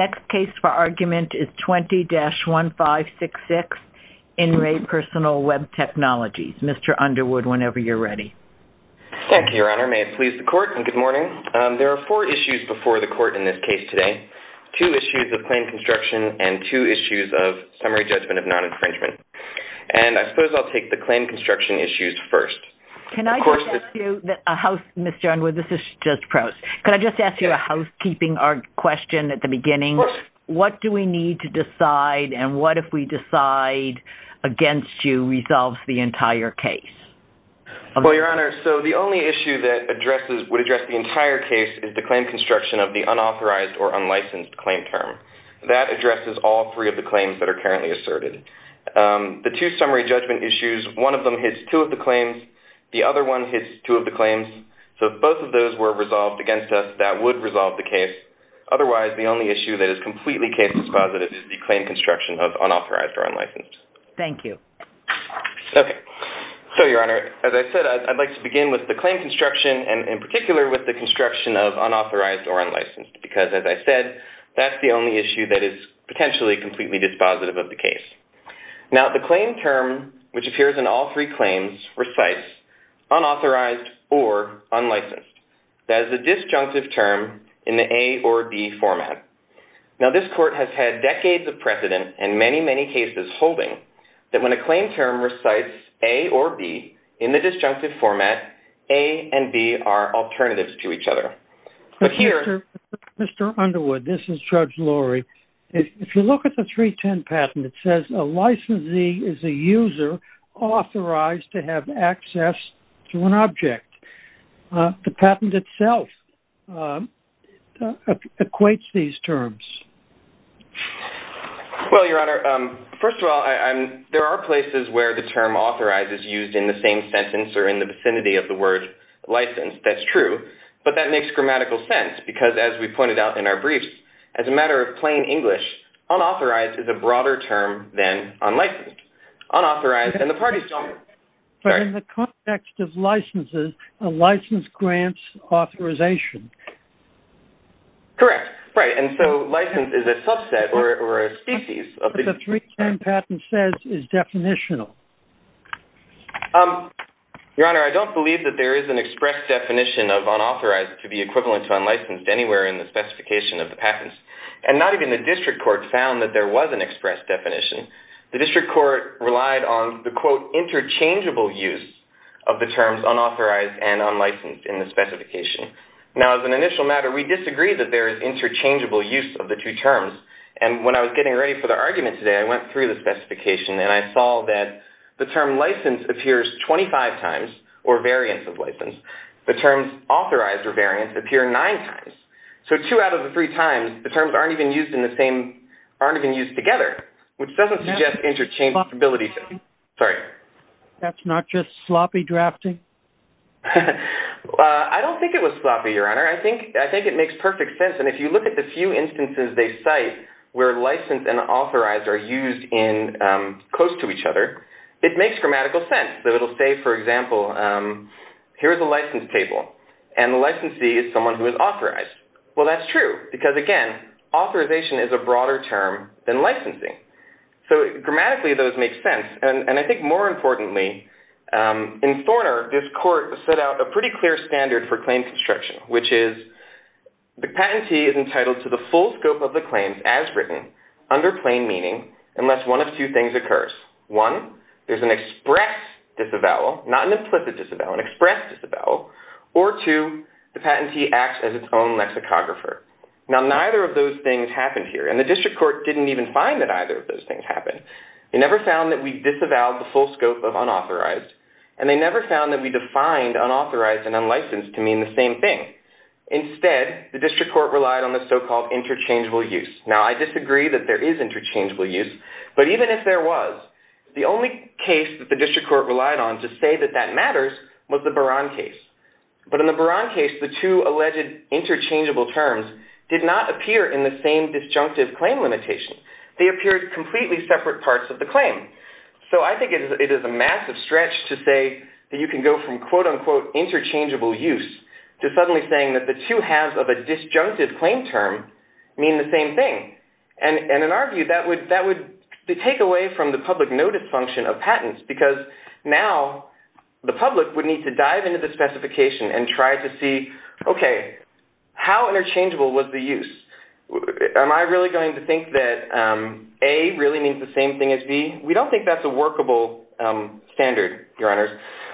Next case for argument is 20-1566, In Re PersonalWeb Technologies, Mr. Underwood, whenever you're ready. Thank you, Your Honor. May it please the Court. Good morning. There are four issues before the Court in this case today, two issues of claim construction and two issues of summary judgment of non-infringement. And I suppose I'll take the claim construction issues first. Can I just ask you, Mr. Underwood, this is just prose, can I just ask you a housekeeping question at the beginning? What do we need to decide and what, if we decide against you, resolves the entire case? Well, Your Honor, so the only issue that would address the entire case is the claim construction of the unauthorized or unlicensed claim term. That addresses all three of the claims that are currently asserted. The two summary judgment issues, one of them hits two of the claims, the other one hits two of the claims. So if both of those were resolved against us, that would resolve the case. Otherwise, the only issue that is completely case dispositive is the claim construction of unauthorized or unlicensed. Thank you. Okay. So, Your Honor, as I said, I'd like to begin with the claim construction and in particular with the construction of unauthorized or unlicensed because, as I said, that's the only issue that is potentially completely dispositive of the case. Now, the claim term, which appears in all three claims, recites unauthorized or unlicensed. That is a disjunctive term in the A or B format. Now, this court has had decades of precedent and many, many cases holding that when a claim term recites A or B in the disjunctive format, A and B are alternatives to each other. But here... Mr. Underwood, this is Judge Lurie. If you look at the 310 patent, it says a licensee is a user authorized to have access to an object. The patent itself equates these terms. Well, Your Honor, first of all, there are places where the term authorized is used in the same sentence or in the vicinity of the word licensed. That's true. But that makes grammatical sense because, as we pointed out in our briefs, as a matter of plain English, unauthorized is a broader term than unlicensed. Unauthorized... But in the context of licenses, a license grants authorization. Correct. Right. And so licensed is a subset or a species of the... But the 310 patent says is definitional. Your Honor, I don't believe that there is an express definition of unauthorized to be equivalent to unlicensed anywhere in the specification of the patents. And not even the district court found that there was an express definition. The district court relied on the, quote, interchangeable use of the terms unauthorized and unlicensed in the specification. Now, as an initial matter, we disagree that there is interchangeable use of the two terms. And when I was getting ready for the argument today, I went through the specification and I saw that the term licensed appears 25 times or variants of licensed. The terms authorized or variants appear nine times. So two out of the three times, the terms aren't even used in the same... Aren't even used together, which doesn't suggest interchangeability. Sorry. That's not just sloppy drafting? I don't think it was sloppy, Your Honor. I think it makes perfect sense. And if you look at the few instances they cite where licensed and authorized are used in close to each other, it makes grammatical sense. So it'll say, for example, here's a license table. And the licensee is someone who is authorized. Well, that's true because, again, authorization is a broader term than licensing. So grammatically, those make sense. And I think more importantly, in Thorner, this court set out a pretty clear standard for claim construction, which is the patentee is entitled to the full scope of the claims as written under plain meaning unless one of two things occurs. One, there's an express disavowal, not an implicit disavowal, an express disavowal. Or two, the patentee acts as its own lexicographer. Now, neither of those things happened here. And the district court didn't even find that either of those things happened. They never found that we disavowed the full scope of unauthorized. And they never found that we defined unauthorized and unlicensed to mean the same thing. Instead, the district court relied on the so-called interchangeable use. Now, I disagree that there is interchangeable use. But even if there was, the only case that the district court relied on to say that that was the Baran case. But in the Baran case, the two alleged interchangeable terms did not appear in the same disjunctive claim limitation. They appeared completely separate parts of the claim. So I think it is a massive stretch to say that you can go from, quote, unquote, interchangeable use to suddenly saying that the two halves of a disjunctive claim term mean the same thing. And in our view, that would take away from the public notice function of patents because now the public would need to dive into the specification and try to see, okay, how interchangeable was the use? Am I really going to think that A really means the same thing as B? We don't think that's a workable standard, Your Honors.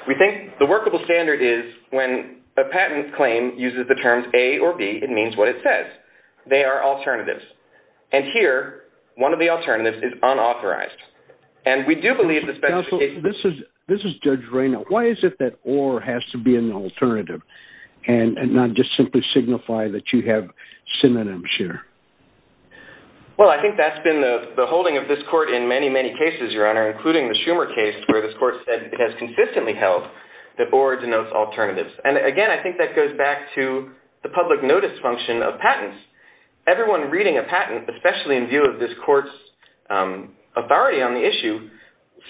We think the workable standard is when a patent claim uses the terms A or B, it means what it says. They are alternatives. And here, one of the alternatives is unauthorized. And we do believe the specification... Counsel, this is Judge Reynaud. Why is it that OR has to be an alternative and not just simply signify that you have synonyms here? Well, I think that's been the holding of this court in many, many cases, Your Honor, including the Schumer case where this court said it has consistently held that OR denotes alternatives. And again, I think that goes back to the public notice function of patents. Everyone reading a patent, especially in view of this court's authority on the issue,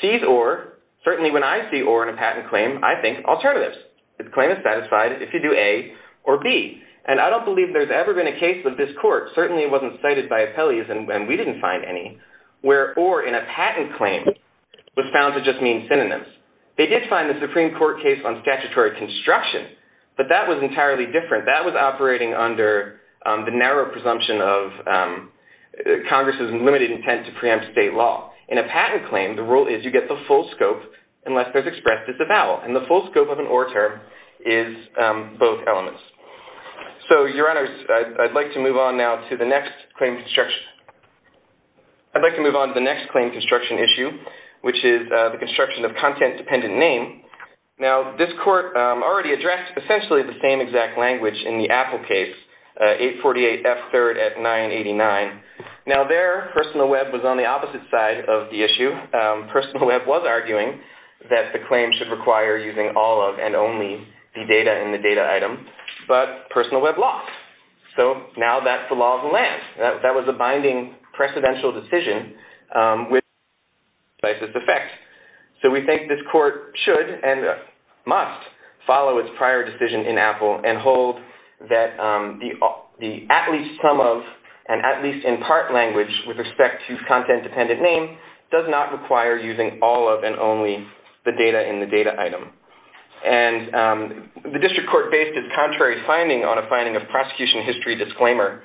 sees OR. Certainly when I see OR in a patent claim, I think alternatives. The claim is satisfied if you do A or B. And I don't believe there's ever been a case with this court, certainly it wasn't cited by appellees and we didn't find any, where OR in a patent claim was found to just mean synonyms. They did find the Supreme Court case on statutory construction, but that was entirely different. That was operating under the narrow presumption of Congress's limited intent to preempt state law. In a patent claim, the rule is you get the full scope unless there's expressed as a vowel. And the full scope of an OR term is both elements. So Your Honors, I'd like to move on now to the next claim construction issue, which is the construction of content-dependent name. Now this court already addressed essentially the same exact language in the Apple case, 848F3 at 989. Now there, Personal Web was on the opposite side of the issue. Personal Web was arguing that the claim should require using all of and only the data in the data item, but Personal Web lost. So now that's the law of the land. That was a binding precedential decision with decisive effect. So we think this court should and must follow its prior decision in Apple and hold that the at least some of and at least in part language with respect to content-dependent name does not require using all of and only the data in the data item. And the district court based its contrary finding on a finding of prosecution history disclaimer,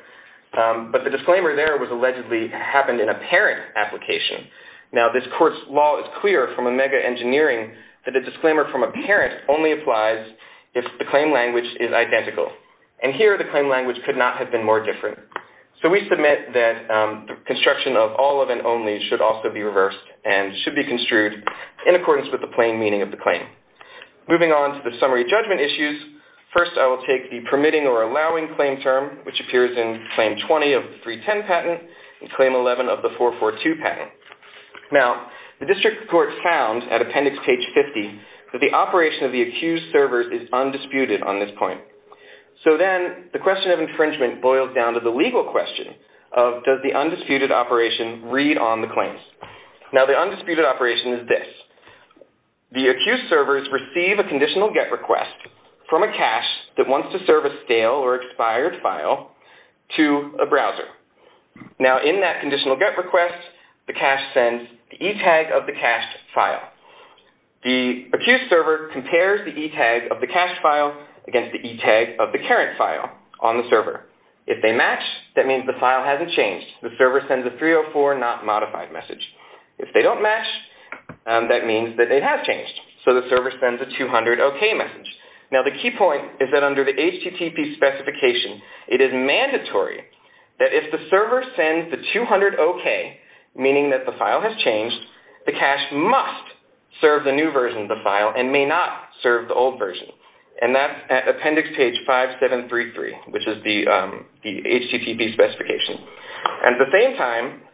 but the disclaimer there was allegedly happened in a parent application. Now this court's law is clear from OMEGA engineering that a disclaimer from a parent only applies if the claim language is identical. And here the claim language could not have been more different. So we submit that the construction of all of and only should also be reversed and should be construed in accordance with the plain meaning of the claim. Moving on to the summary judgment issues, first I will take the permitting or allowing claim term which appears in claim 20 of the 310 patent and claim 11 of the 442 patent. Now the district court found at appendix page 50 that the operation of the accused servers is undisputed on this point. So then the question of infringement boils down to the legal question of does the undisputed operation read on the claims. Now the undisputed operation is this. The accused servers receive a conditional get request from a cash that wants to serve a stale or expired file to a browser. Now in that conditional get request, the cash sends the e-tag of the cached file. The accused server compares the e-tag of the cached file against the e-tag of the current file on the server. If they match, that means the file hasn't changed. The server sends a 304 not modified message. If they don't match, that means that it has changed. So the server sends a 200 OK message. Now the key point is that under the HTTP specification, it is mandatory that if the server sends the 200 OK, meaning that the file has changed, the cash must serve the new version of the file and may not serve the old version. And that's at appendix page 5733, which is the HTTP specification. At the same time,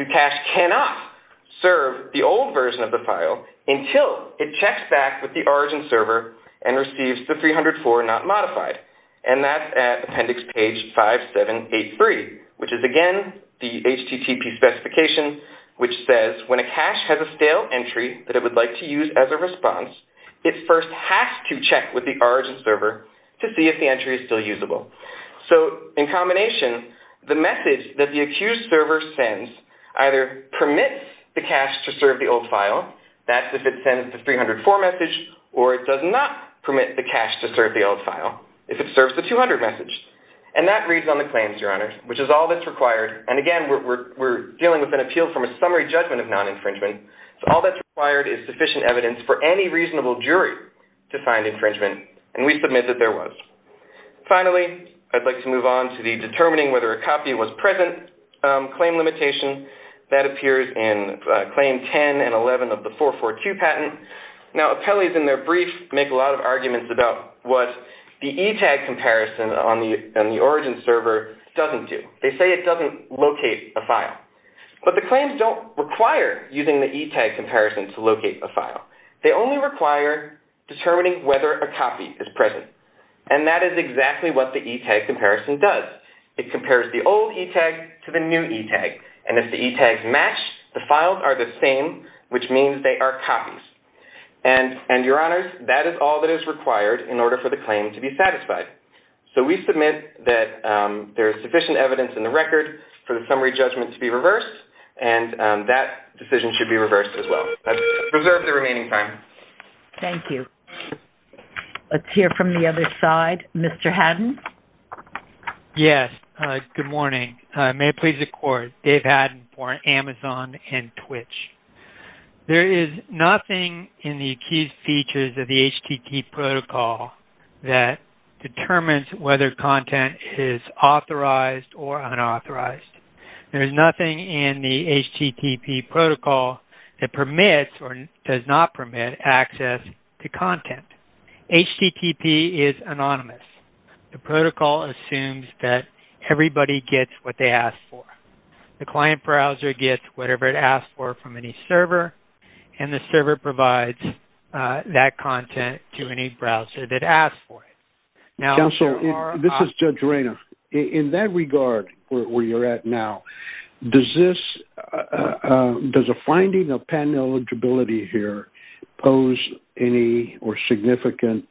the cash cannot serve the old version of the file until it checks back with the origin server and receives the 304 not modified. And that's at appendix page 5783, which is again the HTTP specification, which says when a cash has a stale entry that it would like to use as a response, it first has to check with the origin server to see if the entry is still usable. So in combination, the message that the accused server sends either permits the cash to serve the old file, that's if it sends the 304 message, or it does not permit the cash to serve the old file if it serves the 200 message. And that reads on the claims, Your Honor, which is all that's required. And again, we're dealing with an appeal from a summary judgment of non-infringement, so all that's required is sufficient evidence for any reasonable jury to find infringement. And we submit that there was. Finally, I'd like to move on to the determining whether a copy was present claim limitation. That appears in claim 10 and 11 of the 442 patent. Now appellees in their brief make a lot of arguments about what the ETag comparison on the origin server doesn't do. They say it doesn't locate a file. But the claims don't require using the ETag comparison to locate a file. They only require determining whether a copy is present. And that is exactly what the ETag comparison does. It compares the old ETag to the new ETag. And if the ETags match, the files are the same, which means they are copies. And Your Honors, that is all that is required in order for the claim to be satisfied. So we submit that there is sufficient evidence in the record for the summary judgment to be reversed, and that decision should be reversed as well. I reserve the remaining time. Thank you. Let's hear from the other side. Mr. Haddon? Yes. Good morning. May it please the Court, Dave Haddon for Amazon and Twitch. There is nothing in the Accused Features of the HTT protocol that determines whether content is authorized or unauthorized. There is nothing in the HTTP protocol that permits or does not permit access to content. HTTP is anonymous. The protocol assumes that everybody gets what they ask for. The client browser gets whatever it asks for from any server, and the server provides that content to any browser that asks for it. Counselor, this is Judge Reina. In that regard, where you are at now, does a finding of patent eligibility here pose any or significant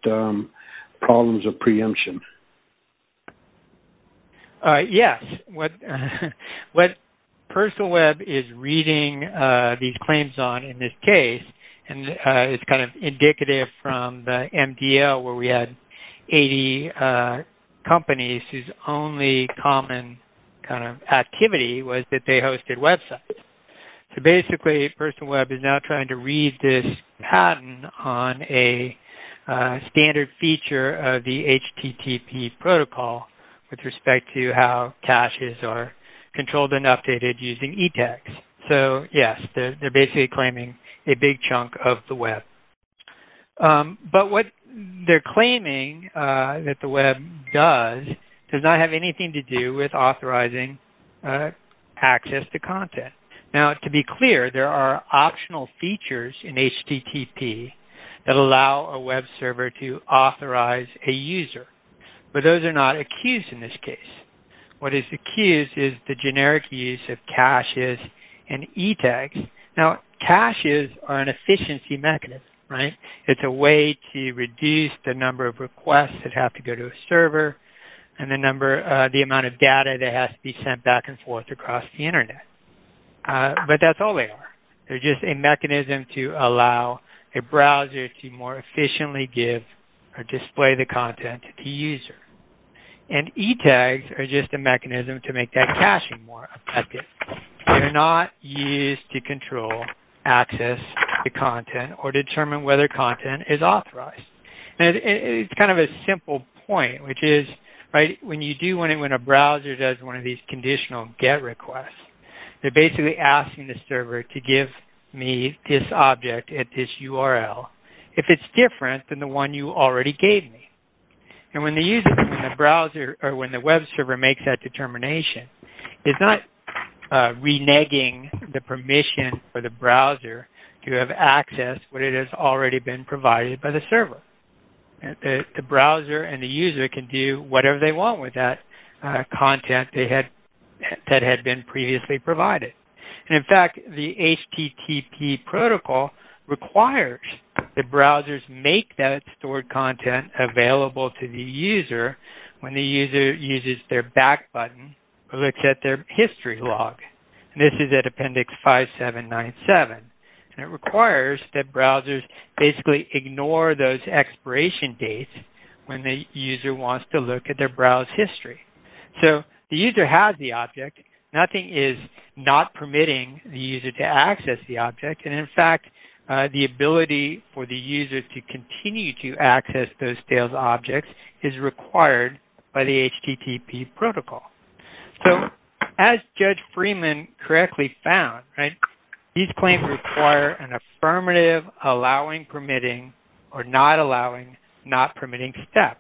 problems of preemption? Yes. What Personal Web is reading these claims on in this case is indicative from the MDL where we had 80 companies whose only common activity was that they hosted websites. So, basically, Personal Web is now trying to read this patent on a standard feature of the HTTP protocol with respect to how caches are controlled and updated using e-text. So, yes, they're basically claiming a big chunk of the web. But what they're claiming that the web does does not have anything to do with authorizing access to content. Now, to be clear, there are optional features in HTTP that allow a web server to authorize a user, but those are not accused in this case. What is accused is the generic use of caches and e-text. Now, caches are an efficiency mechanism, right? It's a way to reduce the number of requests that have to go to a server and the number the amount of data that has to be sent back and forth across the Internet. But that's all they are. They're just a mechanism to allow a browser to more efficiently give or display the content to the user. And e-tags are just a mechanism to make that caching more effective. They're not used to control access to content or determine whether content is authorized. It's kind of a simple point, which is when a browser does one of these conditional get requests, they're basically asking the server to give me this object at this URL if it's different than the one you already gave me. And when the web server makes that determination, it's not reneging the permission for the browser and the user can do whatever they want with that content that had been previously provided. And in fact, the HTTP protocol requires that browsers make that stored content available to the user when the user uses their back button to look at their history log. And this is at Appendix 5797. And it requires that browsers basically ignore those expiration dates when the user wants to look at their browse history. So the user has the object. Nothing is not permitting the user to access the object. And in fact, the ability for the user to continue to access those stale objects is required by the HTTP protocol. So as Judge Freeman correctly found, these claims require an affirmative, allowing, permitting, or not allowing, not permitting step.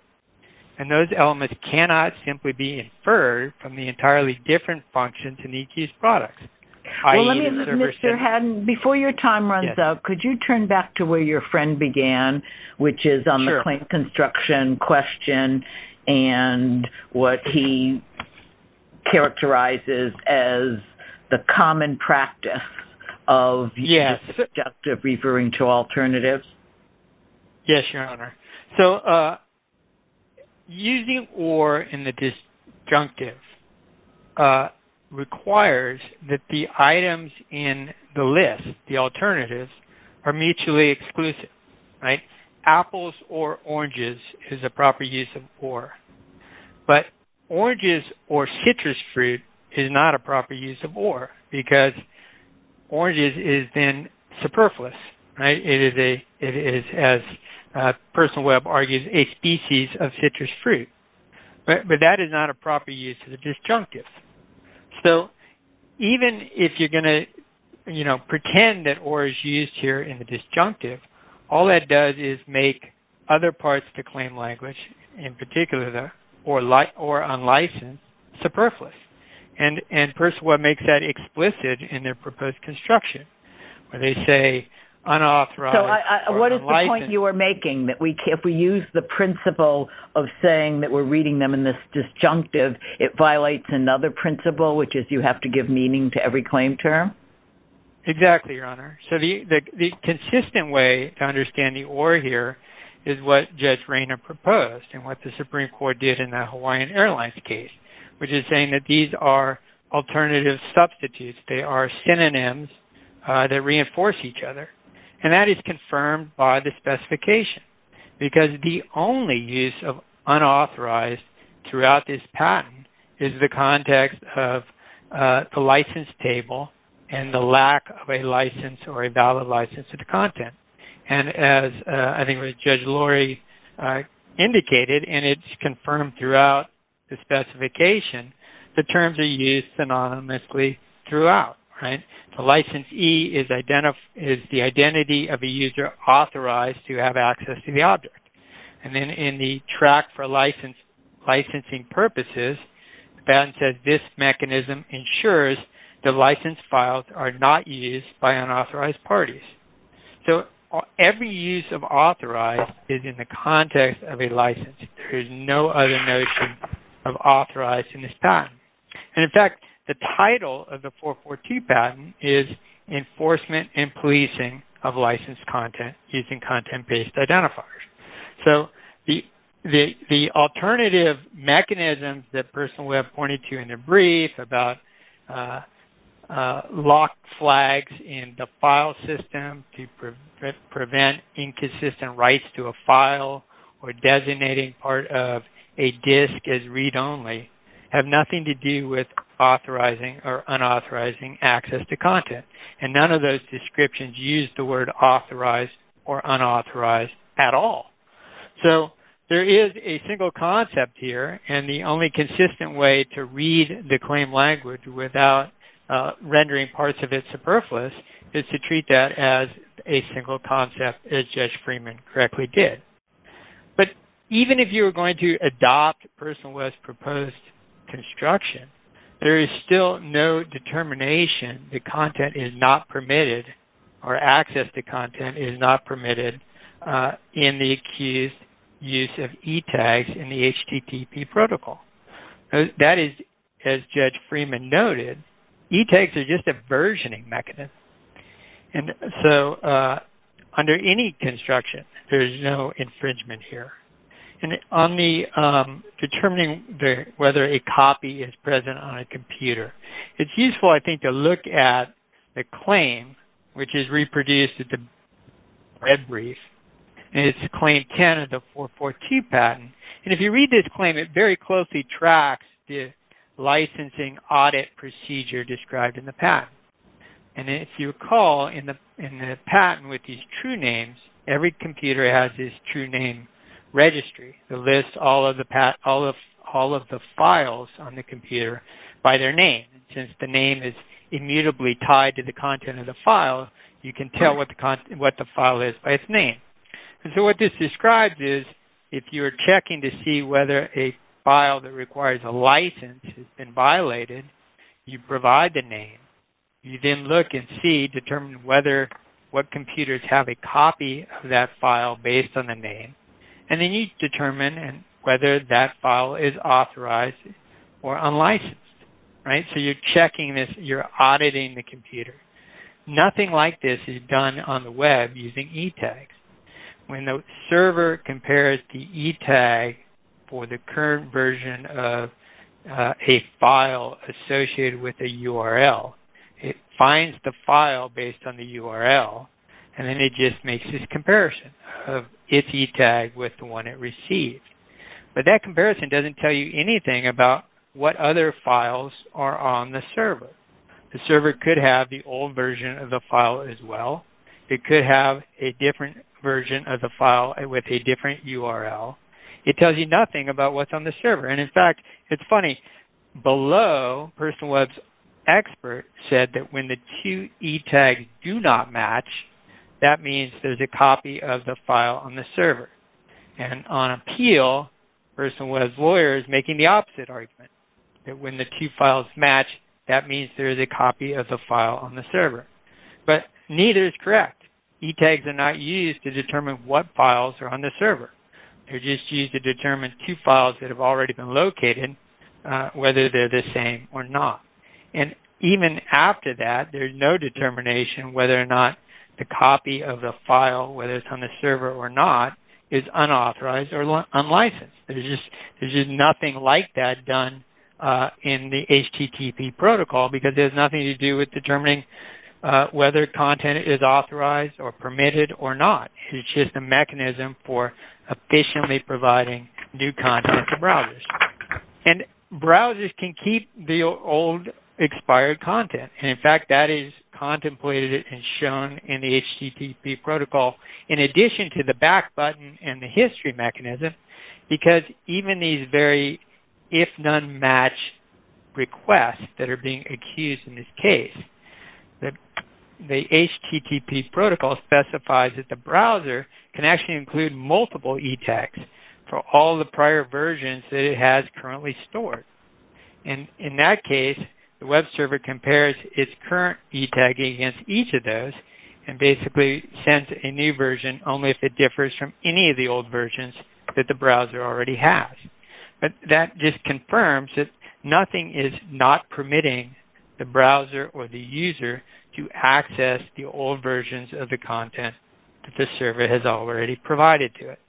And those elements cannot simply be inferred from the entirely different functions in EQ's products, i.e. the server setting. Well, let me just, Mr. Haddon, before your time runs out, could you turn back to where your friend began, which is on the claim construction question and what he characterizes as the common practice of using the disjunctive referring to alternatives? Yes, Your Honor. So using or in the disjunctive requires that the items in the list, the alternatives, are mutually exclusive. Apples or oranges is a proper use of or. But oranges or citrus fruit is not a proper use of or because oranges is then superfluous. It is, as Personal Web argues, a species of citrus fruit. But that is not a proper use of the disjunctive. So even if you're going to pretend that or is used here in the disjunctive, all that does is make other parts of the claim language, in particular the or unlicensed, superfluous. And Personal Web makes that explicit in their proposed construction where they say unauthorized or unlicensed. So what is the point you are making, that if we use the principle of saying that we're which is you have to give meaning to every claim term? Exactly, Your Honor. So the consistent way to understand the or here is what Judge Rayner proposed and what the Supreme Court did in the Hawaiian Airlines case, which is saying that these are alternative substitutes. They are synonyms that reinforce each other. And that is confirmed by the specification because the only use of unauthorized throughout this patent is the context of the license table and the lack of a license or a valid license of the content. And as I think Judge Lori indicated, and it's confirmed throughout the specification, the terms are used synonymously throughout. The license E is the identity of a user authorized to have access to the object. And then in the track for licensing purposes, the patent says this mechanism ensures the license files are not used by unauthorized parties. So every use of authorized is in the context of a license. There is no other notion of authorized in this patent. And in fact, the title of the 442 patent is Enforcement and Policing of Licensed Content Using Content-Based Identifiers. So the alternative mechanisms that the person pointed to in the brief about locked flags in the file system to prevent inconsistent rights to a file or designating part of a disk as read-only have nothing to do with authorizing or unauthorizing access to content. And none of those descriptions use the word authorized or unauthorized at all. So there is a single concept here. And the only consistent way to read the claim language without rendering parts of it superfluous is to treat that as a single concept, as Judge Freeman correctly did. But even if you were going to adopt Personal Web's proposed construction, there is still no determination that content is not permitted or access to content is not permitted in the accused's use of e-tags in the HTTP protocol. That is, as Judge Freeman noted, e-tags are just a versioning mechanism. And so under any construction, there is no infringement here. Determining whether a copy is present on a computer. It's useful, I think, to look at the claim, which is reproduced at the red brief. And it's the Claim Canada 442 patent. And if you read this claim, it very closely tracks the licensing audit procedure described in the patent. And if you recall, in the patent with these true names, every computer has this true name registry that lists all of the files on the computer by their name. Since the name is immutably tied to the content of the file, you can tell what the file is by its name. And so what this describes is, if you are checking to see whether a file that requires a license has been violated, you provide the name. You then look and see, determine whether, what computers have a copy of that file based on the name. And then you determine whether that file is authorized or unlicensed. Right? So you're checking this, you're auditing the computer. Nothing like this is done on the web using e-tags. When the server compares the e-tag for the current version of a file associated with the URL, it finds the file based on the URL. And then it just makes this comparison of its e-tag with the one it received. But that comparison doesn't tell you anything about what other files are on the server. The server could have the old version of the file as well. It could have a different version of the file with a different URL. It tells you nothing about what's on the server. And in fact, it's funny. Below, PersonWeb's expert said that when the two e-tags do not match, that means there's a copy of the file on the server. And on appeal, PersonWeb's lawyer is making the opposite argument. That when the two files match, that means there's a copy of the file on the server. But neither is correct. E-tags are not used to determine what files are on the server. They're just used to determine two files that have already been located, whether they're the same or not. And even after that, there's no determination whether or not the copy of the file, whether it's on the server or not, is unauthorized or unlicensed. There's just nothing like that done in the HTTP protocol, because there's nothing to do with determining whether content is authorized or permitted or not. It's just a mechanism for efficiently providing new content to browsers. And browsers can keep the old expired content. And in fact, that is contemplated and shown in the HTTP protocol, in addition to the back button and the history mechanism. Because even these very if-none-match requests that are being accused in this case, the HTTP protocol specifies that the browser can actually include multiple e-tags for all the prior versions that it has currently stored. And in that case, the web server compares its current e-tag against each of those and basically sends a new version, only if it differs from any of the old versions that the browser already has. But that just confirms that nothing is not permitting the browser or the user to access the old versions of the content that the server has already provided to it.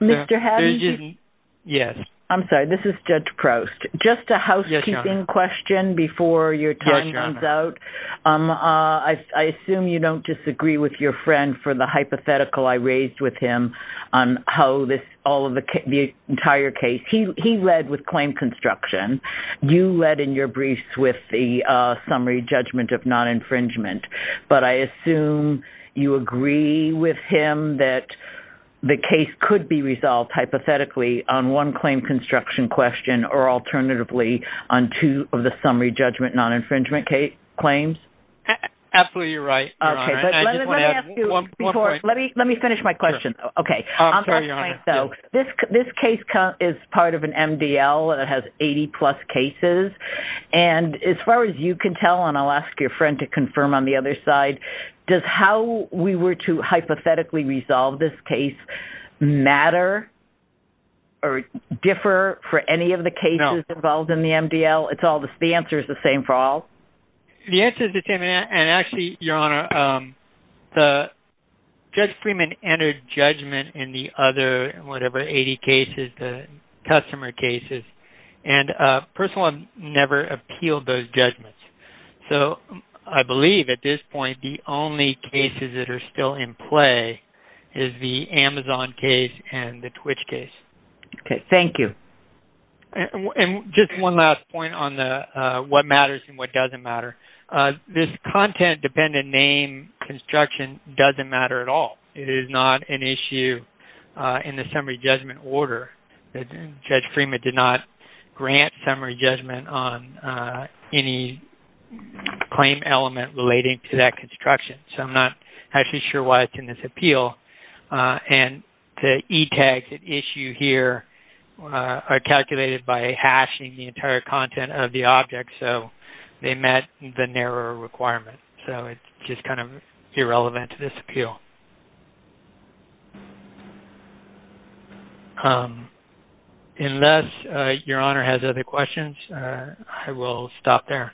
Mr. Hadley? Yes. I'm sorry. This is Judge Proust. Just a housekeeping question before your time runs out. I assume you don't disagree with your friend for the hypothetical I raised with him on how the entire case... He led with claim construction. You led in your briefs with the summary judgment of non-infringement. But I assume you agree with him that the case could be resolved hypothetically on one claim construction question or alternatively on two of the summary judgment non-infringement claims? Absolutely right, Your Honor. Okay. But let me ask you before... One point. Let me finish my question. Okay. I'm sorry, Your Honor. So this case is part of an MDL that has 80-plus cases. And as far as you can tell, and I'll ask your friend to confirm on the other side, does how we were to hypothetically resolve this case matter or differ for any of the cases involved in the MDL? No. It's all... The answer is the same for all? The answer is the same. And actually, Your Honor, Judge Freeman entered judgment in the other, whatever, 80 cases, the customer cases. And a person would never appeal those judgments. So I believe at this point the only cases that are still in play is the Amazon case and the Twitch case. Okay. Thank you. And just one last point on the what matters and what doesn't matter. This content-dependent name construction doesn't matter at all. It is not an issue in the summary judgment order. Judge Freeman did not grant summary judgment on any claim element relating to that construction. So I'm not actually sure why it's in this appeal. And the e-tags at issue here are calculated by hashing the entire content of the object. So they met the narrower requirement. So it's just kind of irrelevant to this appeal. Unless Your Honor has other questions, I will stop there.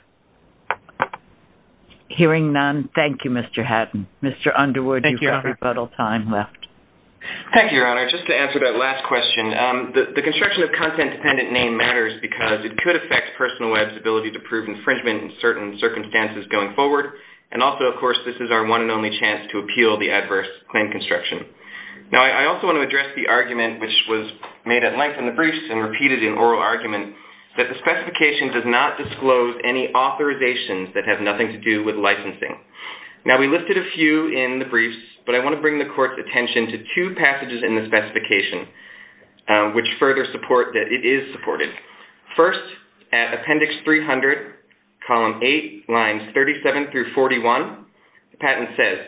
Hearing none, thank you, Mr. Hatton. Mr. Underwood, you have rebuttal time left. Thank you, Your Honor. Just to answer that last question, the construction of content-dependent name matters because it could affect Personal Web's ability to prove infringement in certain circumstances going forward. And also, of course, this is our one and only chance to appeal the adverse claim construction. Now, I also want to address the argument, which was made at length in the briefs and repeated in oral argument, that the specification does not disclose any authorizations that have nothing to do with licensing. Now, we lifted a few in the briefs, but I want to bring the Court's attention to two passages in the specification, which further support that it is supported. First, at Appendix 300, Column 8, Lines 37 through 41, the patent says,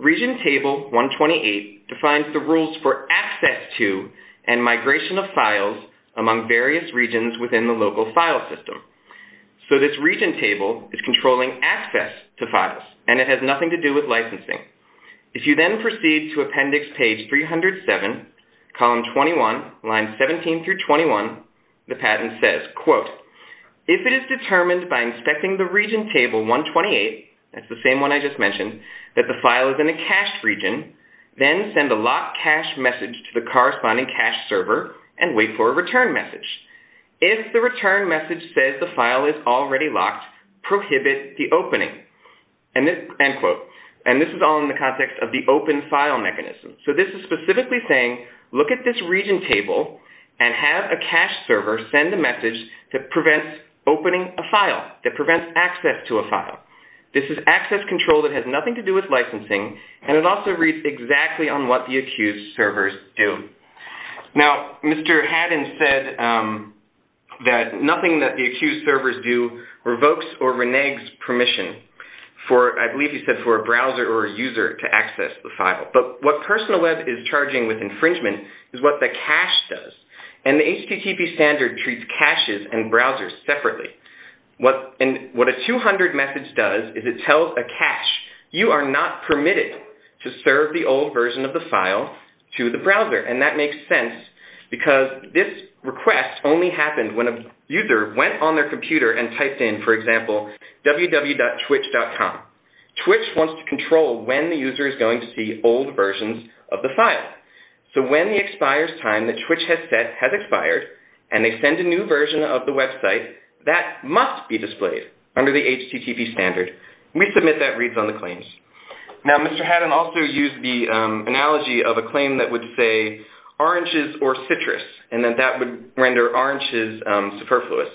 Region Table 128 defines the rules for access to and migration of files among various regions within the local file system. So this region table is controlling access to files, and it has nothing to do with licensing. If you then proceed to Appendix 307, Column 21, Lines 17 through 21, the patent says, If it is determined by inspecting the Region Table 128, that's the same one I just mentioned, that the file is in a cached region, then send a Lock Cache message to the corresponding cache server and wait for a return message. If the return message says the file is already locked, prohibit the opening. And this is all in the context of the open file mechanism. So this is specifically saying, look at this region table and have a cache server send a message that prevents opening a file, that prevents access to a file. This is access control that has nothing to do with licensing, and it also reads exactly on what the accused servers do. Now, Mr. Haddon said that nothing that the accused servers do revokes or reneges permission. I believe he said for a browser or a user to access the file. But what Personal Web is charging with infringement is what the cache does. And the HTTP standard treats caches and browsers separately. What a 200 message does is it tells a cache, you are not permitted to serve the old version of the file to the browser. And that makes sense because this request only happened when a user went on their computer and typed in, for example, www.twitch.com. Twitch wants to control when the user is going to see old versions of the file. So when the expires time that Twitch has set has expired, and they send a new version of the website, that must be displayed under the HTTP standard. We submit that reads on the claims. Now, Mr. Haddon also used the analogy of a claim that would say, oranges or citrus. And then that would render oranges superfluous.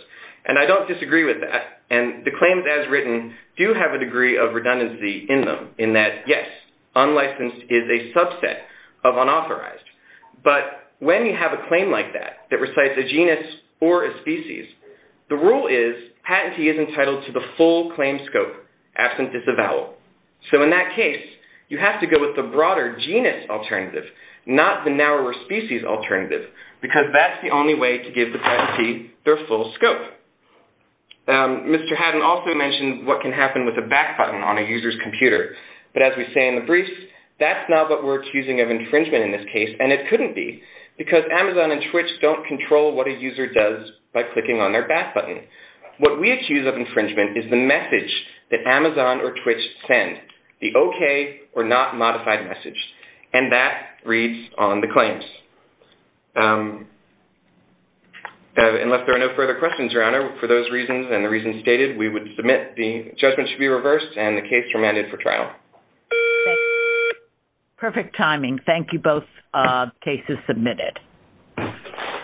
And I don't disagree with that. And the claims as written do have a degree of redundancy in them. In that, yes, unlicensed is a subset of unauthorized. But when you have a claim like that, that recites a genus or a species, the rule is patentee is entitled to the full claim scope, absent is a vowel. So in that case, you have to go with the broader genus alternative, not the narrower species alternative, because that's the only way to give the patentee their full scope. Mr. Haddon also mentioned what can happen with a back button on a user's computer. But as we say in the briefs, that's not what we're accusing of infringement in this case. And it couldn't be, because Amazon and Twitch don't control what a user does by clicking on their back button. What we accuse of infringement is the message that Amazon or Twitch send, the OK or not modified message. And that reads on the claims. Unless there are no further questions, Your Honor, for those reasons and the reasons stated, we would submit. The judgment should be reversed and the case remanded for trial. Perfect timing. Thank you. Both cases submitted.